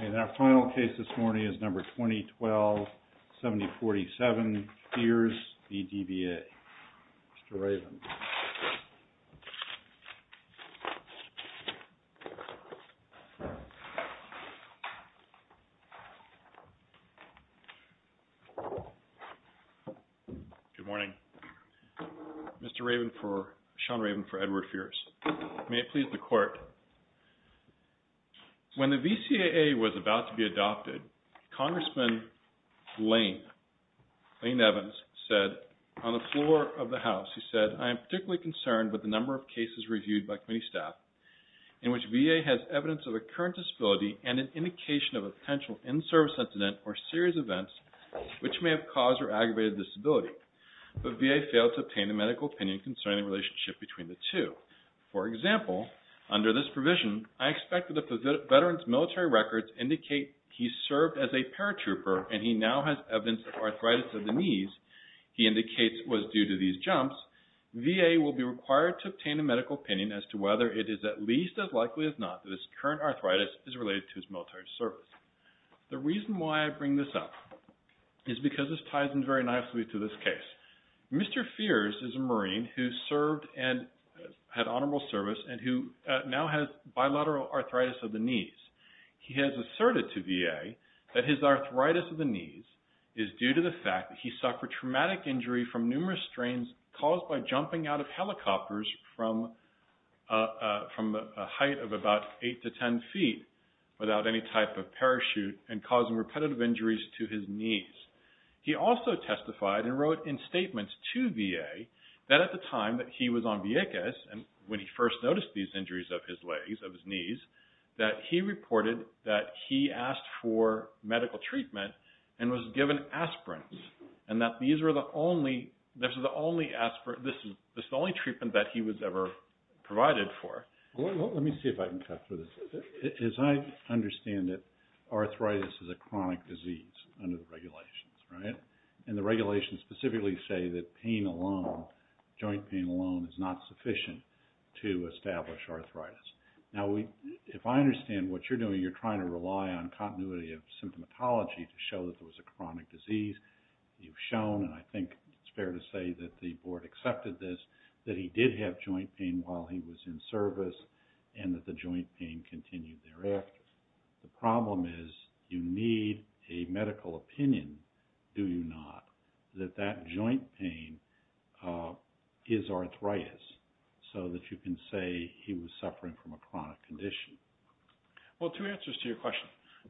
And our final case this morning is number 2012-7047, FEARS v. DVA. Mr. Raven. Good morning. Mr. Raven for, Sean Raven for Edward FEARS. May it please the Court. When the VCAA was about to be adopted, Congressman Lane, Lane Evans, said on the floor of the concerned with the number of cases reviewed by committee staff in which VA has evidence of a current disability and an indication of a potential in-service incident or serious events which may have caused or aggravated the disability, but VA failed to obtain a medical opinion concerning the relationship between the two. For example, under this provision, I expect that the veteran's military records indicate he served as a paratrooper and he now has evidence of arthritis of the knees. He indicates it was due to these jumps. VA will be required to obtain a medical opinion as to whether it is at least as likely as not that his current arthritis is related to his military service. The reason why I bring this up is because this ties in very nicely to this case. Mr. FEARS is a Marine who served and had honorable service and who now has bilateral arthritis of the knees. He has asserted to VA that his arthritis of the knees is due to the fact that he suffered traumatic injury from numerous strains caused by jumping out of helicopters from a height of about 8 to 10 feet without any type of parachute and causing repetitive injuries to his knees. He also testified and wrote in statements to VA that at the time that he was on Vieques and when he first noticed these injuries of his legs, of his knees, that he reported that he asked for medical treatment and was given aspirin and that these were the only, this was the only treatment that he was ever provided for. Let me see if I can cut through this. As I understand it, arthritis is a chronic disease under the regulations, right? And the regulations specifically say that pain alone, joint pain alone is not sufficient to establish arthritis. Now if I understand what you're doing, you're trying to rely on continuity of symptomatology to show that there was a chronic disease. You've shown, and I think it's fair to say that the board accepted this, that he did have joint pain while he was in service and that the joint pain continued thereafter. The problem is you need a medical opinion, do you not, that that joint pain is arthritis so that you can say he was suffering from a chronic condition? Well, two answers to your question.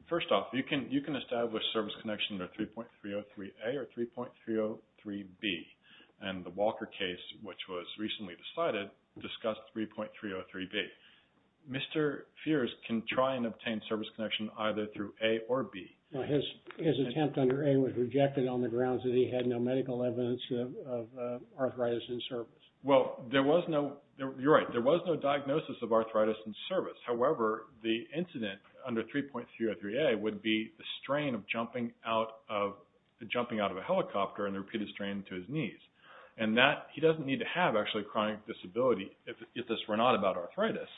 First off, you can establish service connection under 3.303A or 3.303B and the Walker case, which was recently decided, discussed 3.303B. Mr. Fears can try and obtain service connection either through A or B. His attempt under A was rejected on the grounds that he had no medical evidence of arthritis in service. Well, there was no, you're right, there was no diagnosis of arthritis in service. However, the incident under 3.303A would be the strain of jumping out of a helicopter and the repeated strain to his knees. And that, he doesn't need to have actually a chronic disability if this were not about arthritis.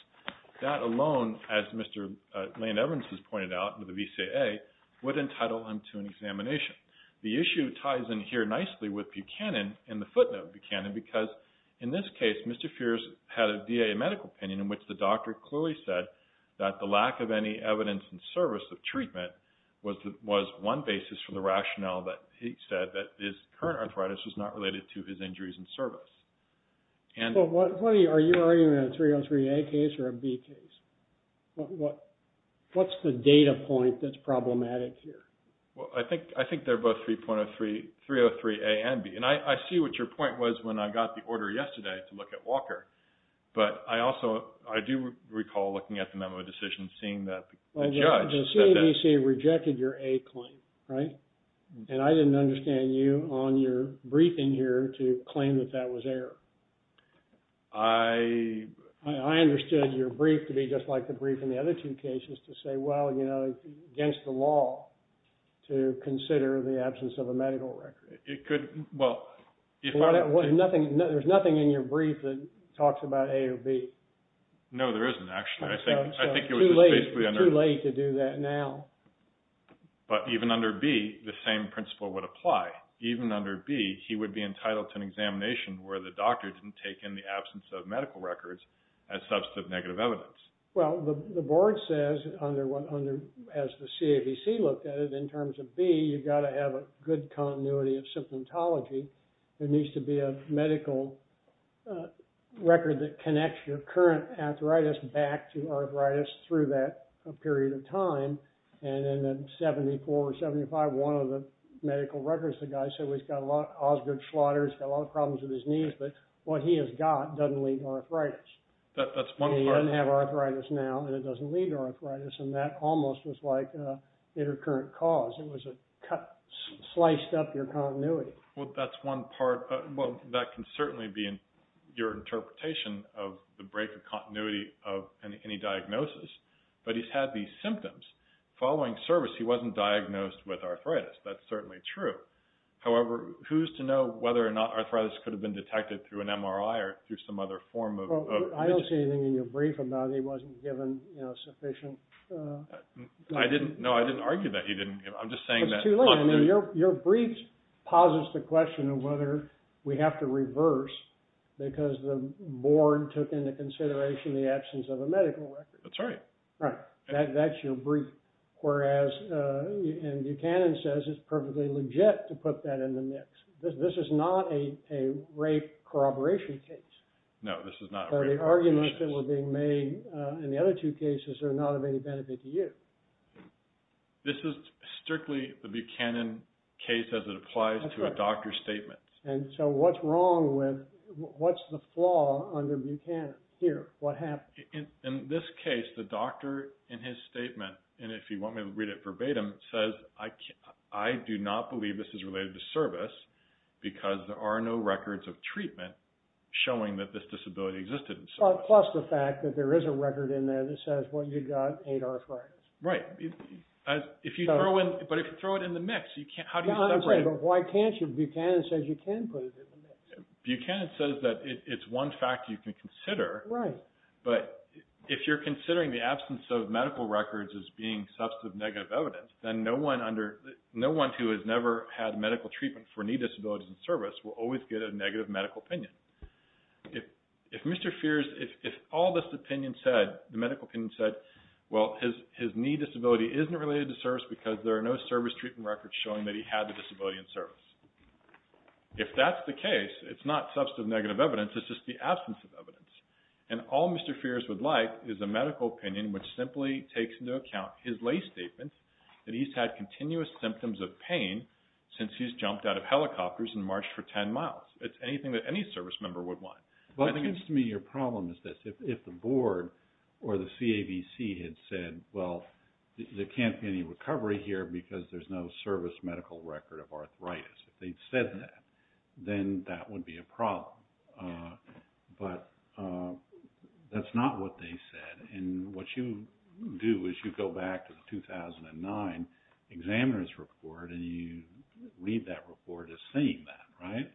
That alone, as Mr. Land-Evans has pointed out, with the VCAA, would entitle him to an examination. The issue ties in here nicely with Buchanan and the footnote of Buchanan because, in this case, Mr. Fears had a VA medical opinion in which the doctor clearly said that the lack of any evidence in service of treatment was one basis for the rationale that he said that his current arthritis was not related to his injuries in service. Well, what, are you arguing a 3.303A case or a B case? What's the data point that's problematic here? Well, I think they're both 3.303A and B. And I see what your point was when I got the order yesterday to look at Walker. But I also, I do recall looking at the memo decision seeing that the judge said that... The CABC rejected your A claim, right? And I didn't understand you on your briefing here to claim that that was error. I... I understood your brief to be just like the brief in the other two cases to say, well, you know, it's against the law to consider the absence of a medical record. It could, well... There's nothing in your brief that talks about A or B. No, there isn't actually. I think it was basically... It's too late to do that now. But even under B, the same principle would apply. Even under B, he would be entitled to an examination where the doctor didn't take in the absence of medical records as substantive negative evidence. Well, the board says under, as the CABC looked at it, in terms of B, you've got to have a good continuity of symptomatology. There needs to be a medical record that connects your current arthritis back to arthritis through that period of time. And in 74 or 75, one of the medical records, the guy said, he's got a lot of Osgood slaughter, he's got a lot of problems with his knees, but what he has got doesn't lead to arthritis. That's one part. He doesn't have arthritis now, and it doesn't lead to arthritis, and that almost was like an intercurrent cause. It sliced up your continuity. Well, that's one part. Well, that can certainly be your interpretation of the break of continuity of any diagnosis. But he's had these symptoms. Following service, he wasn't diagnosed with arthritis. That's certainly true. However, who's to know whether or not arthritis could have been detected through an MRI or through some other form of... Well, I don't see anything in your brief about he wasn't given sufficient... No, I didn't argue that he didn't. I'm just saying that... It's too late. I mean, your brief posits the question of whether we have to reverse because the board took into consideration the absence of a medical record. That's right. Right. That's your brief. Whereas Buchanan says it's perfectly legit to put that in the mix. This is not a rape corroboration case. No, this is not a rape... The arguments that were being made in the other two cases are not of any benefit to you. This is strictly the Buchanan case as it applies to a doctor's statement. And so what's wrong with... What's the flaw under Buchanan here? What happened? In this case, the doctor in his statement, and if you want me to read it verbatim, says, I do not believe this is related to service because there are no records of treatment showing that this disability existed in service. Plus the fact that there is a record in there that says, well, you got eight arthritis. Right. But if you throw it in the mix, you can't... How do you separate... I'm saying, but why can't you? Buchanan says you can put it in the mix. Buchanan says that it's one fact you can consider. Right. But if you're considering the absence of medical records as being substantive negative evidence, then no one who has never had medical treatment for knee disabilities in service will always get a negative medical opinion. If Mr. Feers, if all this opinion said, the medical opinion said, well, his knee disability isn't related to service because there are no service treatment records showing that he had the disability in service. If that's the case, it's not substantive negative evidence. It's just the absence of evidence. And all Mr. Feers would like is a medical opinion which simply takes into account his way statements that he's had continuous symptoms of pain since he's jumped out of helicopters and marched for 10 miles. It's anything that any service member would want. Well, it seems to me your problem is this. If the board or the CAVC had said, well, there can't be any recovery here because there's no service medical record of arthritis. If they'd said that, then that would be a problem. But that's not what they said. And what you do is you go back to the 2009 examiner's report and you read that report as saying that, right?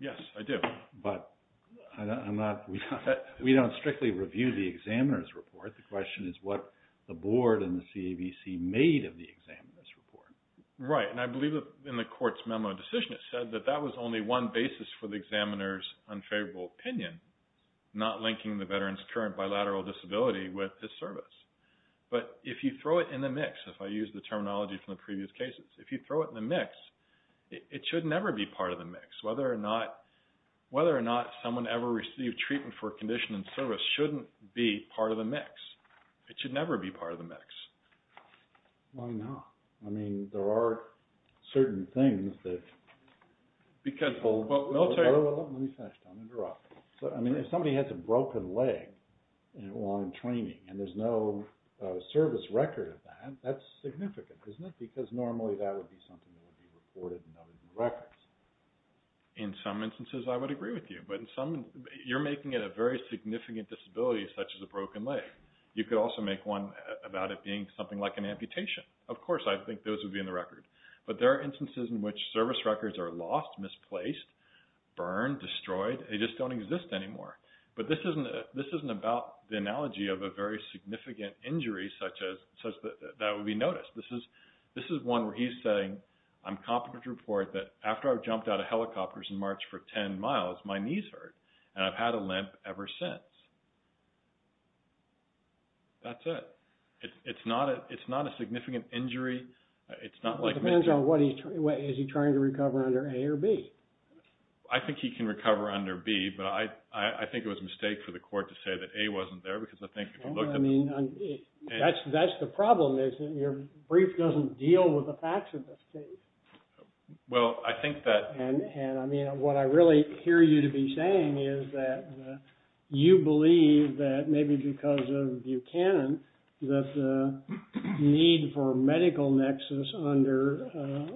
Yes, I do. But we don't strictly review the examiner's report. The question is what the board and the CAVC made of the examiner's report. Right. And I believe that in the court's memo decision, it said that that was only one basis for the But if you throw it in the mix, if I use the terminology from the previous cases, if you throw it in the mix, it should never be part of the mix. Whether or not someone ever received treatment for a condition in service shouldn't be part of the mix. It should never be part of the mix. Why not? I mean, there are certain things that... Because military... Let me finish. I'm going to interrupt. And there's no service record of that. That's significant, isn't it? Because normally that would be something that would be reported in other records. In some instances, I would agree with you. But in some... You're making it a very significant disability, such as a broken leg. You could also make one about it being something like an amputation. Of course, I think those would be in the record. But there are instances in which service records are lost, misplaced, burned, destroyed. They just don't exist anymore. But this isn't about the analogy of a very significant injury such that would be noticed. This is one where he's saying, I'm competent to report that after I jumped out of helicopters in March for 10 miles, my knees hurt, and I've had a limp ever since. That's it. It's not a significant injury. It's not like... It depends on what he's... Is he trying to recover under A or B? I think he can recover under B. But I think it was a mistake for the court to say that A wasn't there, because I think if you looked at... That's the problem, isn't it? Your brief doesn't deal with the facts of this case. Well, I think that... And, I mean, what I really hear you to be saying is that you believe that maybe because of Buchanan that the need for a medical nexus under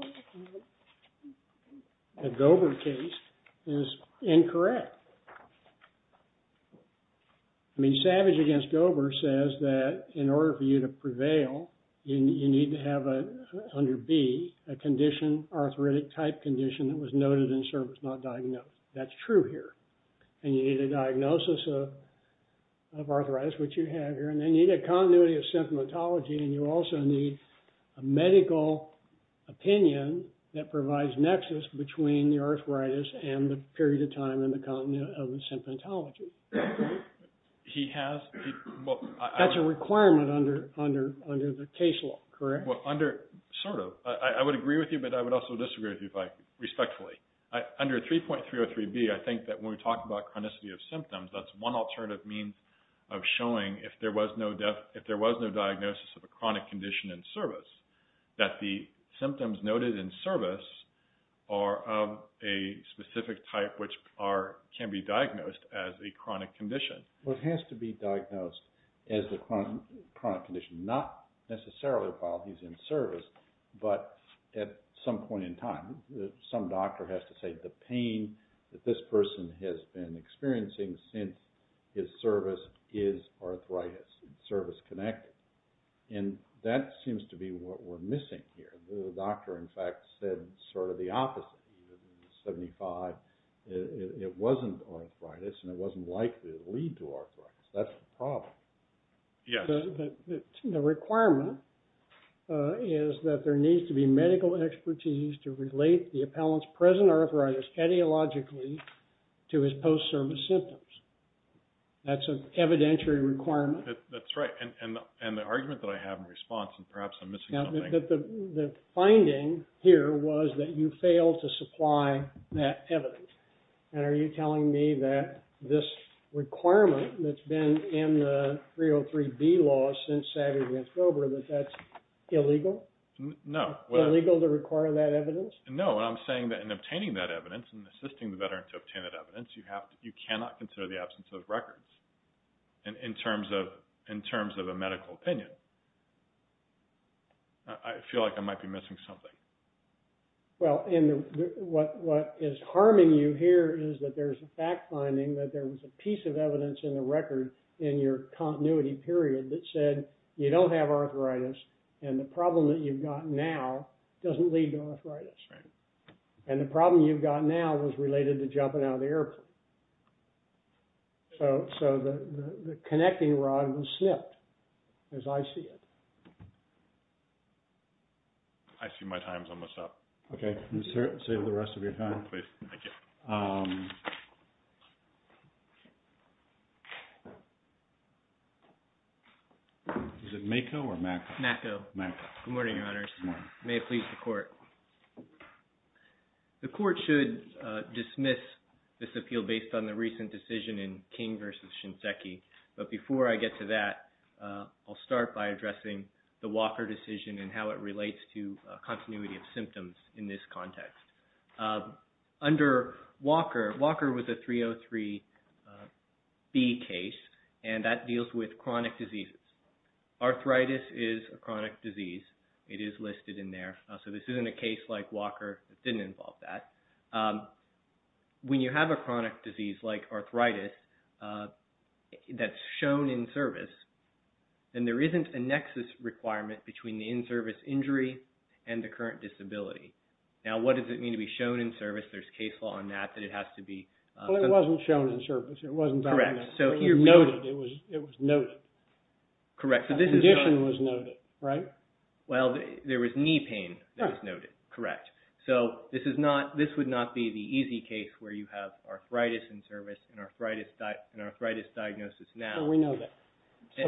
a Gober case is incorrect. I mean, Savage against Gober says that in order for you to prevail, you need to have under B a condition, arthritic-type condition, that was noted in service, not diagnosed. That's true here. And you need a diagnosis of arthritis, which you have here, and then you need a continuity of symptomatology, and you also need a medical opinion that provides nexus between the arthritis and the period of time and the continuity of the symptomatology. He has... That's a requirement under the case law, correct? Well, under... Sort of. I would agree with you, but I would also disagree with you, respectfully. Under 3.303B, I think that when we talk about chronicity of symptoms, that's one alternative means of showing if there was no diagnosis of a chronic condition in service, that the symptoms noted in service are of a specific type which can be diagnosed as a chronic condition. Well, it has to be diagnosed as a chronic condition, not necessarily while he's in service, but at some point in time. Some doctor has to say the pain that this person has been experiencing since his service is arthritis, service-connected. And that seems to be what we're missing here. The doctor, in fact, said sort of the opposite. In 75, it wasn't arthritis, and it wasn't likely to lead to arthritis. That's the problem. Yes. The requirement is that there needs to be medical expertise to relate the appellant's present arthritis etiologically to his post-service symptoms. That's an evidentiary requirement. That's right. And the argument that I have in response, and perhaps I'm missing something. The finding here was that you failed to supply that evidence. And are you telling me that this requirement that's been in the 3.303B law since Savvy Vince Grover, that that's illegal? No. It's not illegal to require that evidence? No. And I'm saying that in obtaining that evidence and assisting the veteran to obtain that evidence, you cannot consider the absence of records in terms of a medical opinion. I feel like I might be missing something. Well, what is harming you here is that there's a fact finding that there was a piece of evidence in the record in your continuity period that said you don't have arthritis. And the problem that you've got now doesn't lead to arthritis. Right. And the problem you've got now is related to jumping out of the airplane. So the connecting rod was snipped, as I see it. I see my time's almost up. Okay. Save the rest of your time. Please. Thank you. Is it MAKO or MACO? MACO. MACO. Good morning, Your Honors. Good morning. May it please the Court. The Court should dismiss this appeal based on the recent decision in King v. Shinseki. But before I get to that, I'll start by addressing the Walker decision and how it relates to continuity of symptoms in this context. Under Walker, Walker was a 303B case, and that deals with chronic diseases. Arthritis is a chronic disease. It is listed in there. So this isn't a case like Walker. It didn't involve that. When you have a chronic disease like arthritis that's shown in service, then there isn't a nexus requirement between the in-service injury and the current disability. Now, what does it mean to be shown in service? There's case law on that that it has to be. Well, it wasn't shown in service. It wasn't documented. Correct. It was noted. It was noted. Correct. The condition was noted, right? Well, there was knee pain that was noted. Correct. So this would not be the easy case where you have arthritis in service and arthritis diagnosis now. Well, we know that.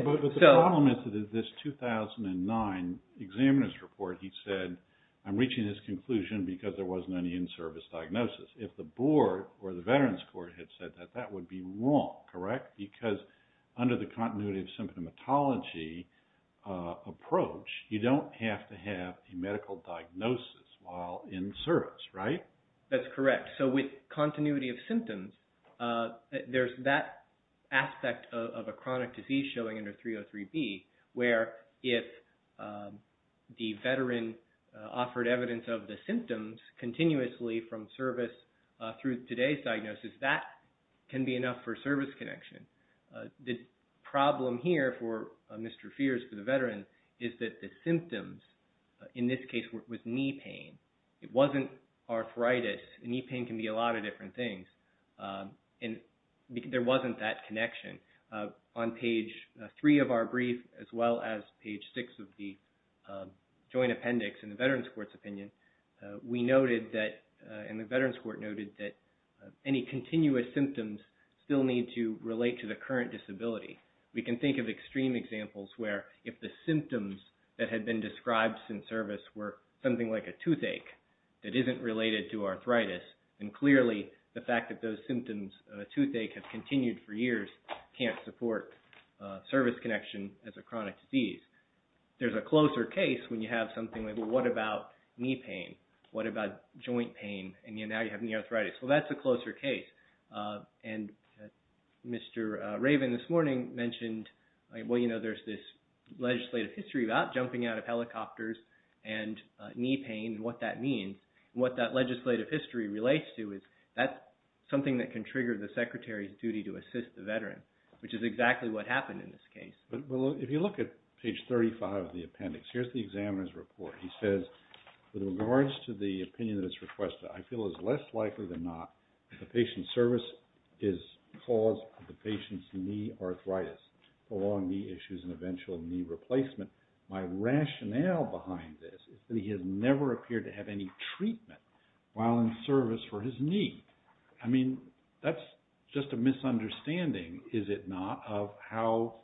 But the problem is that in this 2009 examiner's report, he said, I'm reaching this conclusion because there wasn't any in-service diagnosis. If the board or the veterans court had said that, that would be wrong, correct? Because under the continuity of symptomatology approach, you don't have to have a medical diagnosis while in service, right? So with continuity of symptoms, there's that aspect of a chronic disease showing under 303B where if the veteran offered evidence of the symptoms continuously from service through today's diagnosis, that can be enough for service connection. The problem here for Mr. Feers, for the veteran, is that the symptoms in this case was knee pain. It wasn't arthritis. Knee pain can be a lot of different things. And there wasn't that connection. On page three of our brief, as well as page six of the joint appendix in the veterans court's opinion, we noted that, and the veterans court noted, that any continuous symptoms still need to relate to the current disability. We can think of extreme examples where if the symptoms that had been described since service were something like a toothache that isn't related to arthritis, then clearly the fact that those symptoms of a toothache have continued for years can't support service connection as a chronic disease. There's a closer case when you have something like, well, what about knee pain? What about joint pain? And now you have knee arthritis. Well, that's a closer case. And Mr. Raven this morning mentioned, well, you know, there's this legislative history about jumping out of helicopters and knee pain and what that means. And what that legislative history relates to is that's something that can trigger the secretary's duty to assist the veteran, which is exactly what happened in this case. Well, if you look at page 35 of the appendix, here's the examiner's report. He says, with regards to the opinion that is requested, I feel it's less likely than not that the patient's service is caused by the patient's knee arthritis, along knee issues and eventual knee replacement. My rationale behind this is that he has never appeared to have any treatment while in service for his knee. I mean, that's just a misunderstanding, is it not, of how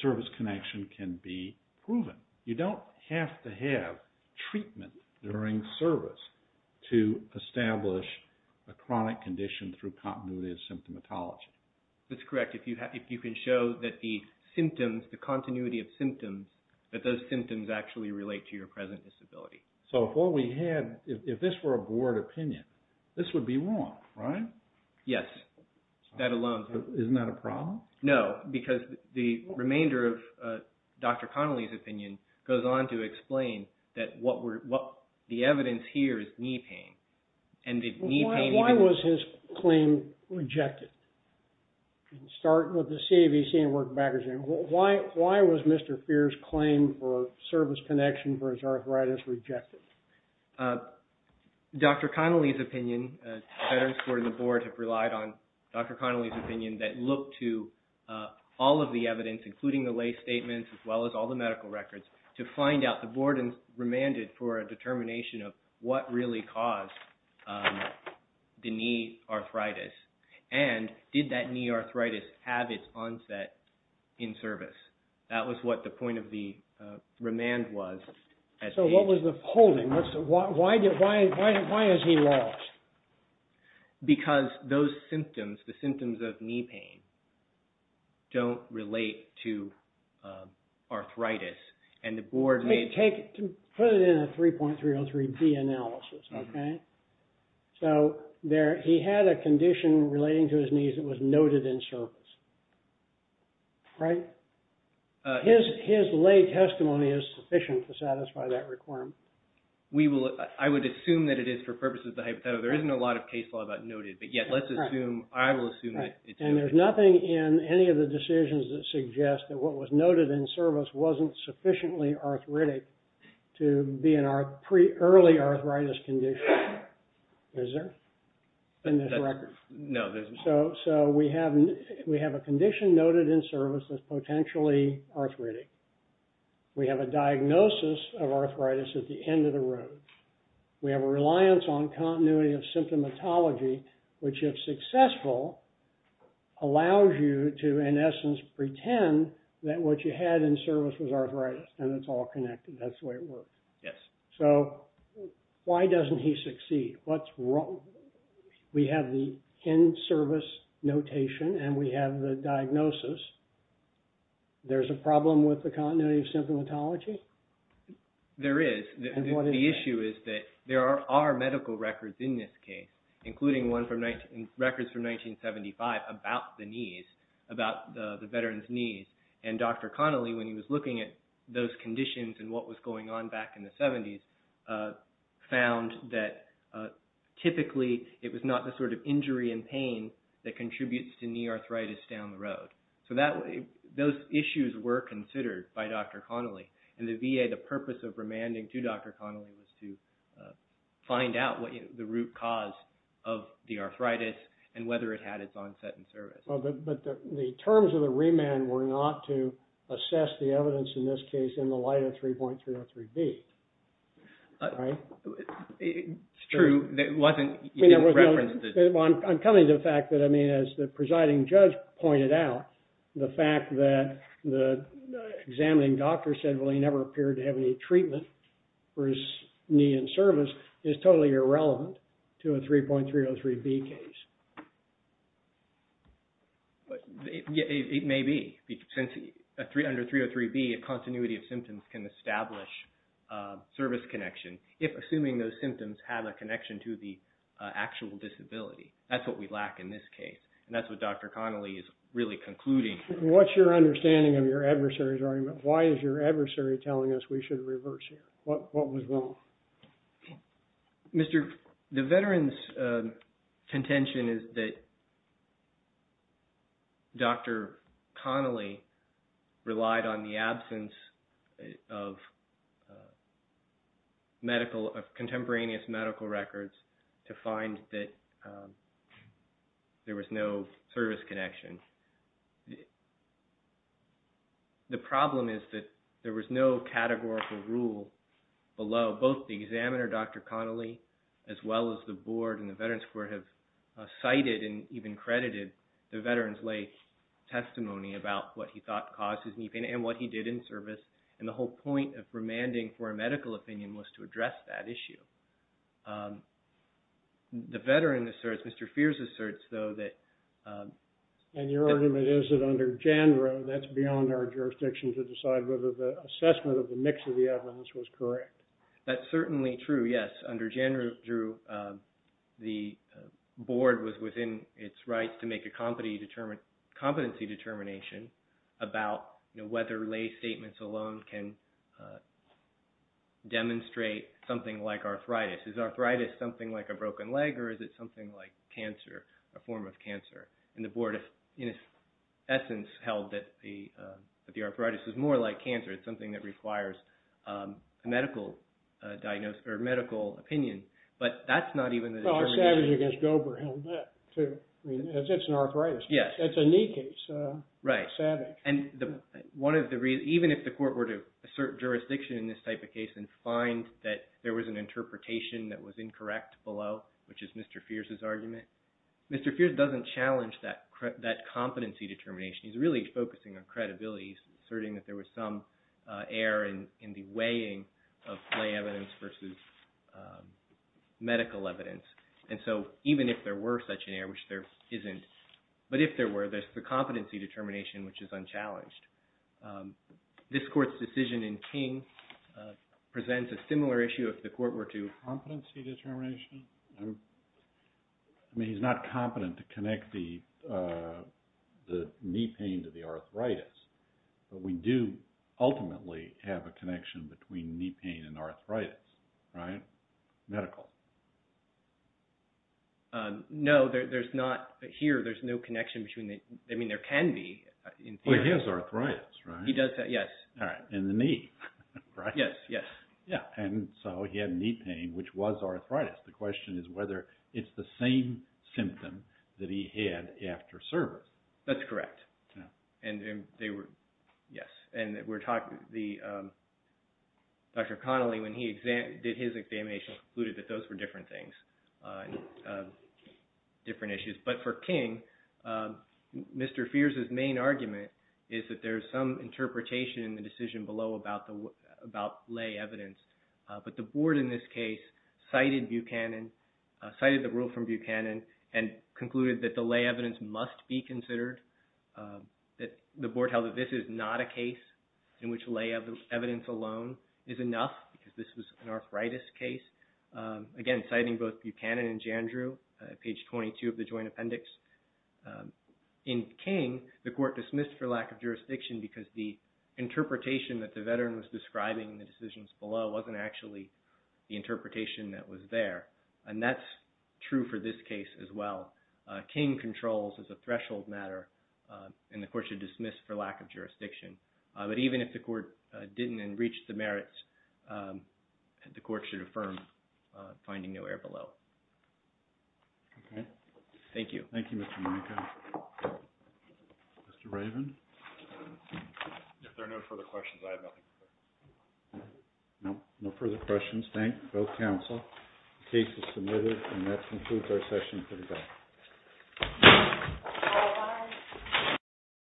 service connection can be proven. You don't have to have treatment during service to establish a chronic condition through continuity of symptomatology. That's correct. If you can show that the symptoms, the continuity of symptoms, that those symptoms actually relate to your present disability. So if what we had, if this were a board opinion, this would be wrong, right? Yes, that alone. Isn't that a problem? No, because the remainder of Dr. Connolly's opinion goes on to explain that the evidence here is knee pain. Why was his claim rejected? Start with the CAVC and work backwards. Why was Mr. Feer's claim for service connection for his arthritis rejected? Dr. Connolly's opinion, the veterans board and the board have relied on Dr. Connolly's opinion that looked to all of the evidence, including the lay statements as well as all the medical records, to find out the board remanded for a determination of what really caused the knee arthritis and did that knee arthritis have its onset in service. That was what the point of the remand was. So what was the polling? Why has he lost? Because those symptoms, the symptoms of knee pain, don't relate to arthritis. Let me put it in a 3.303B analysis, okay? So he had a condition relating to his knees that was noted in service, right? His lay testimony is sufficient to satisfy that requirement. I would assume that it is for purposes of the hypothetical. There isn't a lot of case law about noted, but yet let's assume, I will assume that it's noted. And there's nothing in any of the decisions that suggest that what was noted in service wasn't sufficiently arthritic to be in our pre-early arthritis condition. Is there in this record? No, there's not. So we have a condition noted in service as potentially arthritic. We have a diagnosis of arthritis at the end of the road. We have a reliance on continuity of symptomatology, which if successful, allows you to, in essence, pretend that what you had in service was arthritis and it's all connected, that's the way it works. Yes. So why doesn't he succeed? What's wrong? We have the end service notation and we have the diagnosis. There's a problem with the continuity of symptomatology? There is. And what is that? The issue is that there are medical records in this case, including one from records from 1975 about the knees, about the veteran's knees. And Dr. Connolly, when he was looking at those conditions and what was going on back in the 70s, found that typically it was not the sort of injury and pain that contributes to knee arthritis down the road. So those issues were considered by Dr. Connolly. And the VA, the purpose of remanding to Dr. Connolly was to find out the root cause of the arthritis and whether it had its onset in service. But the terms of the remand were not to assess the evidence in this case in the light of 3.303B, right? It's true. It wasn't referenced. I'm coming to the fact that, I mean, as the presiding judge pointed out, the fact that the examining doctor said, well, he never appeared to have any treatment for his knee in service is totally irrelevant to a 3.303B case. But it may be. Under 3.303B, a continuity of symptoms can establish service connection if assuming those symptoms have a connection to the actual disability. That's what we lack in this case. And that's what Dr. Connolly is really concluding. What's your understanding of your adversary's argument? Why is your adversary telling us we should reverse here? What was wrong? The veteran's contention is that Dr. Connolly relied on the absence of contemporaneous medical records to find that there was no service connection. The problem is that there was no categorical rule below. Both the examiner, Dr. Connolly, as well as the board and the veterans' court have cited and even credited the veteran's lay testimony about what he thought caused his knee pain and what he did in service. And the whole point of remanding for a medical opinion was to address that issue. The veteran asserts, Mr. Feers asserts, though, that And your argument is that under JANDRA, that's beyond our jurisdiction to decide whether the assessment of the mix of the evidence was correct. That's certainly true, yes. Under JANDRA, the board was within its rights to make a competency determination about whether lay statements alone can demonstrate something like arthritis. Is arthritis something like a broken leg, or is it something like cancer, a form of cancer? And the board, in its essence, held that the arthritis was more like cancer. It's something that requires a medical diagnosis or medical opinion, but that's not even the determination. Well, Savage against Dober held that, too. I mean, it's an arthritis. Yes. That's a knee case. Right. Savage. And one of the reasons, even if the court were to assert jurisdiction in this type of case and find that there was an interpretation that was incorrect below, which is Mr. Feers' argument, Mr. Feers doesn't challenge that competency determination. He's really focusing on credibility, asserting that there was some error in the weighing of lay evidence versus medical evidence. And so even if there were such an error, which there isn't, but if there were, there's the competency determination, which is unchallenged. This court's decision in King presents a similar issue if the court were to – Competency determination? I mean, he's not competent to connect the knee pain to the arthritis, but we do ultimately have a connection between knee pain and arthritis, right? Medical. No, there's not. Here, there's no connection between the – I mean, there can be. Well, he has arthritis, right? He does have, yes. All right, and the knee, right? Yes, yes. Yeah, and so he had knee pain, which was arthritis. The question is whether it's the same symptom that he had after service. That's correct. Yeah. And they were – yes. And we're talking – Dr. Connolly, when he did his examination, concluded that those were different things, different issues. But for King, Mr. Feers' main argument is that there's some interpretation in the decision below about lay evidence. But the board in this case cited Buchanan, cited the rule from Buchanan, and concluded that the lay evidence must be considered, that the board held that this is not a case in which lay evidence alone is enough, because this was an arthritis case. Again, citing both Buchanan and Jandrew, page 22 of the joint appendix. In King, the court dismissed for lack of jurisdiction because the interpretation that the veteran was describing in the decisions below wasn't actually the interpretation that was there. And that's true for this case as well. King controls as a threshold matter, and the court should dismiss for lack of jurisdiction. But even if the court didn't and reached the merits, the court should affirm finding no error below. Okay. Thank you. Thank you, Mr. Monaco. Mr. Raven. If there are no further questions, I have nothing further. No further questions. Thank both counsel. The case is submitted, and that concludes our session for today.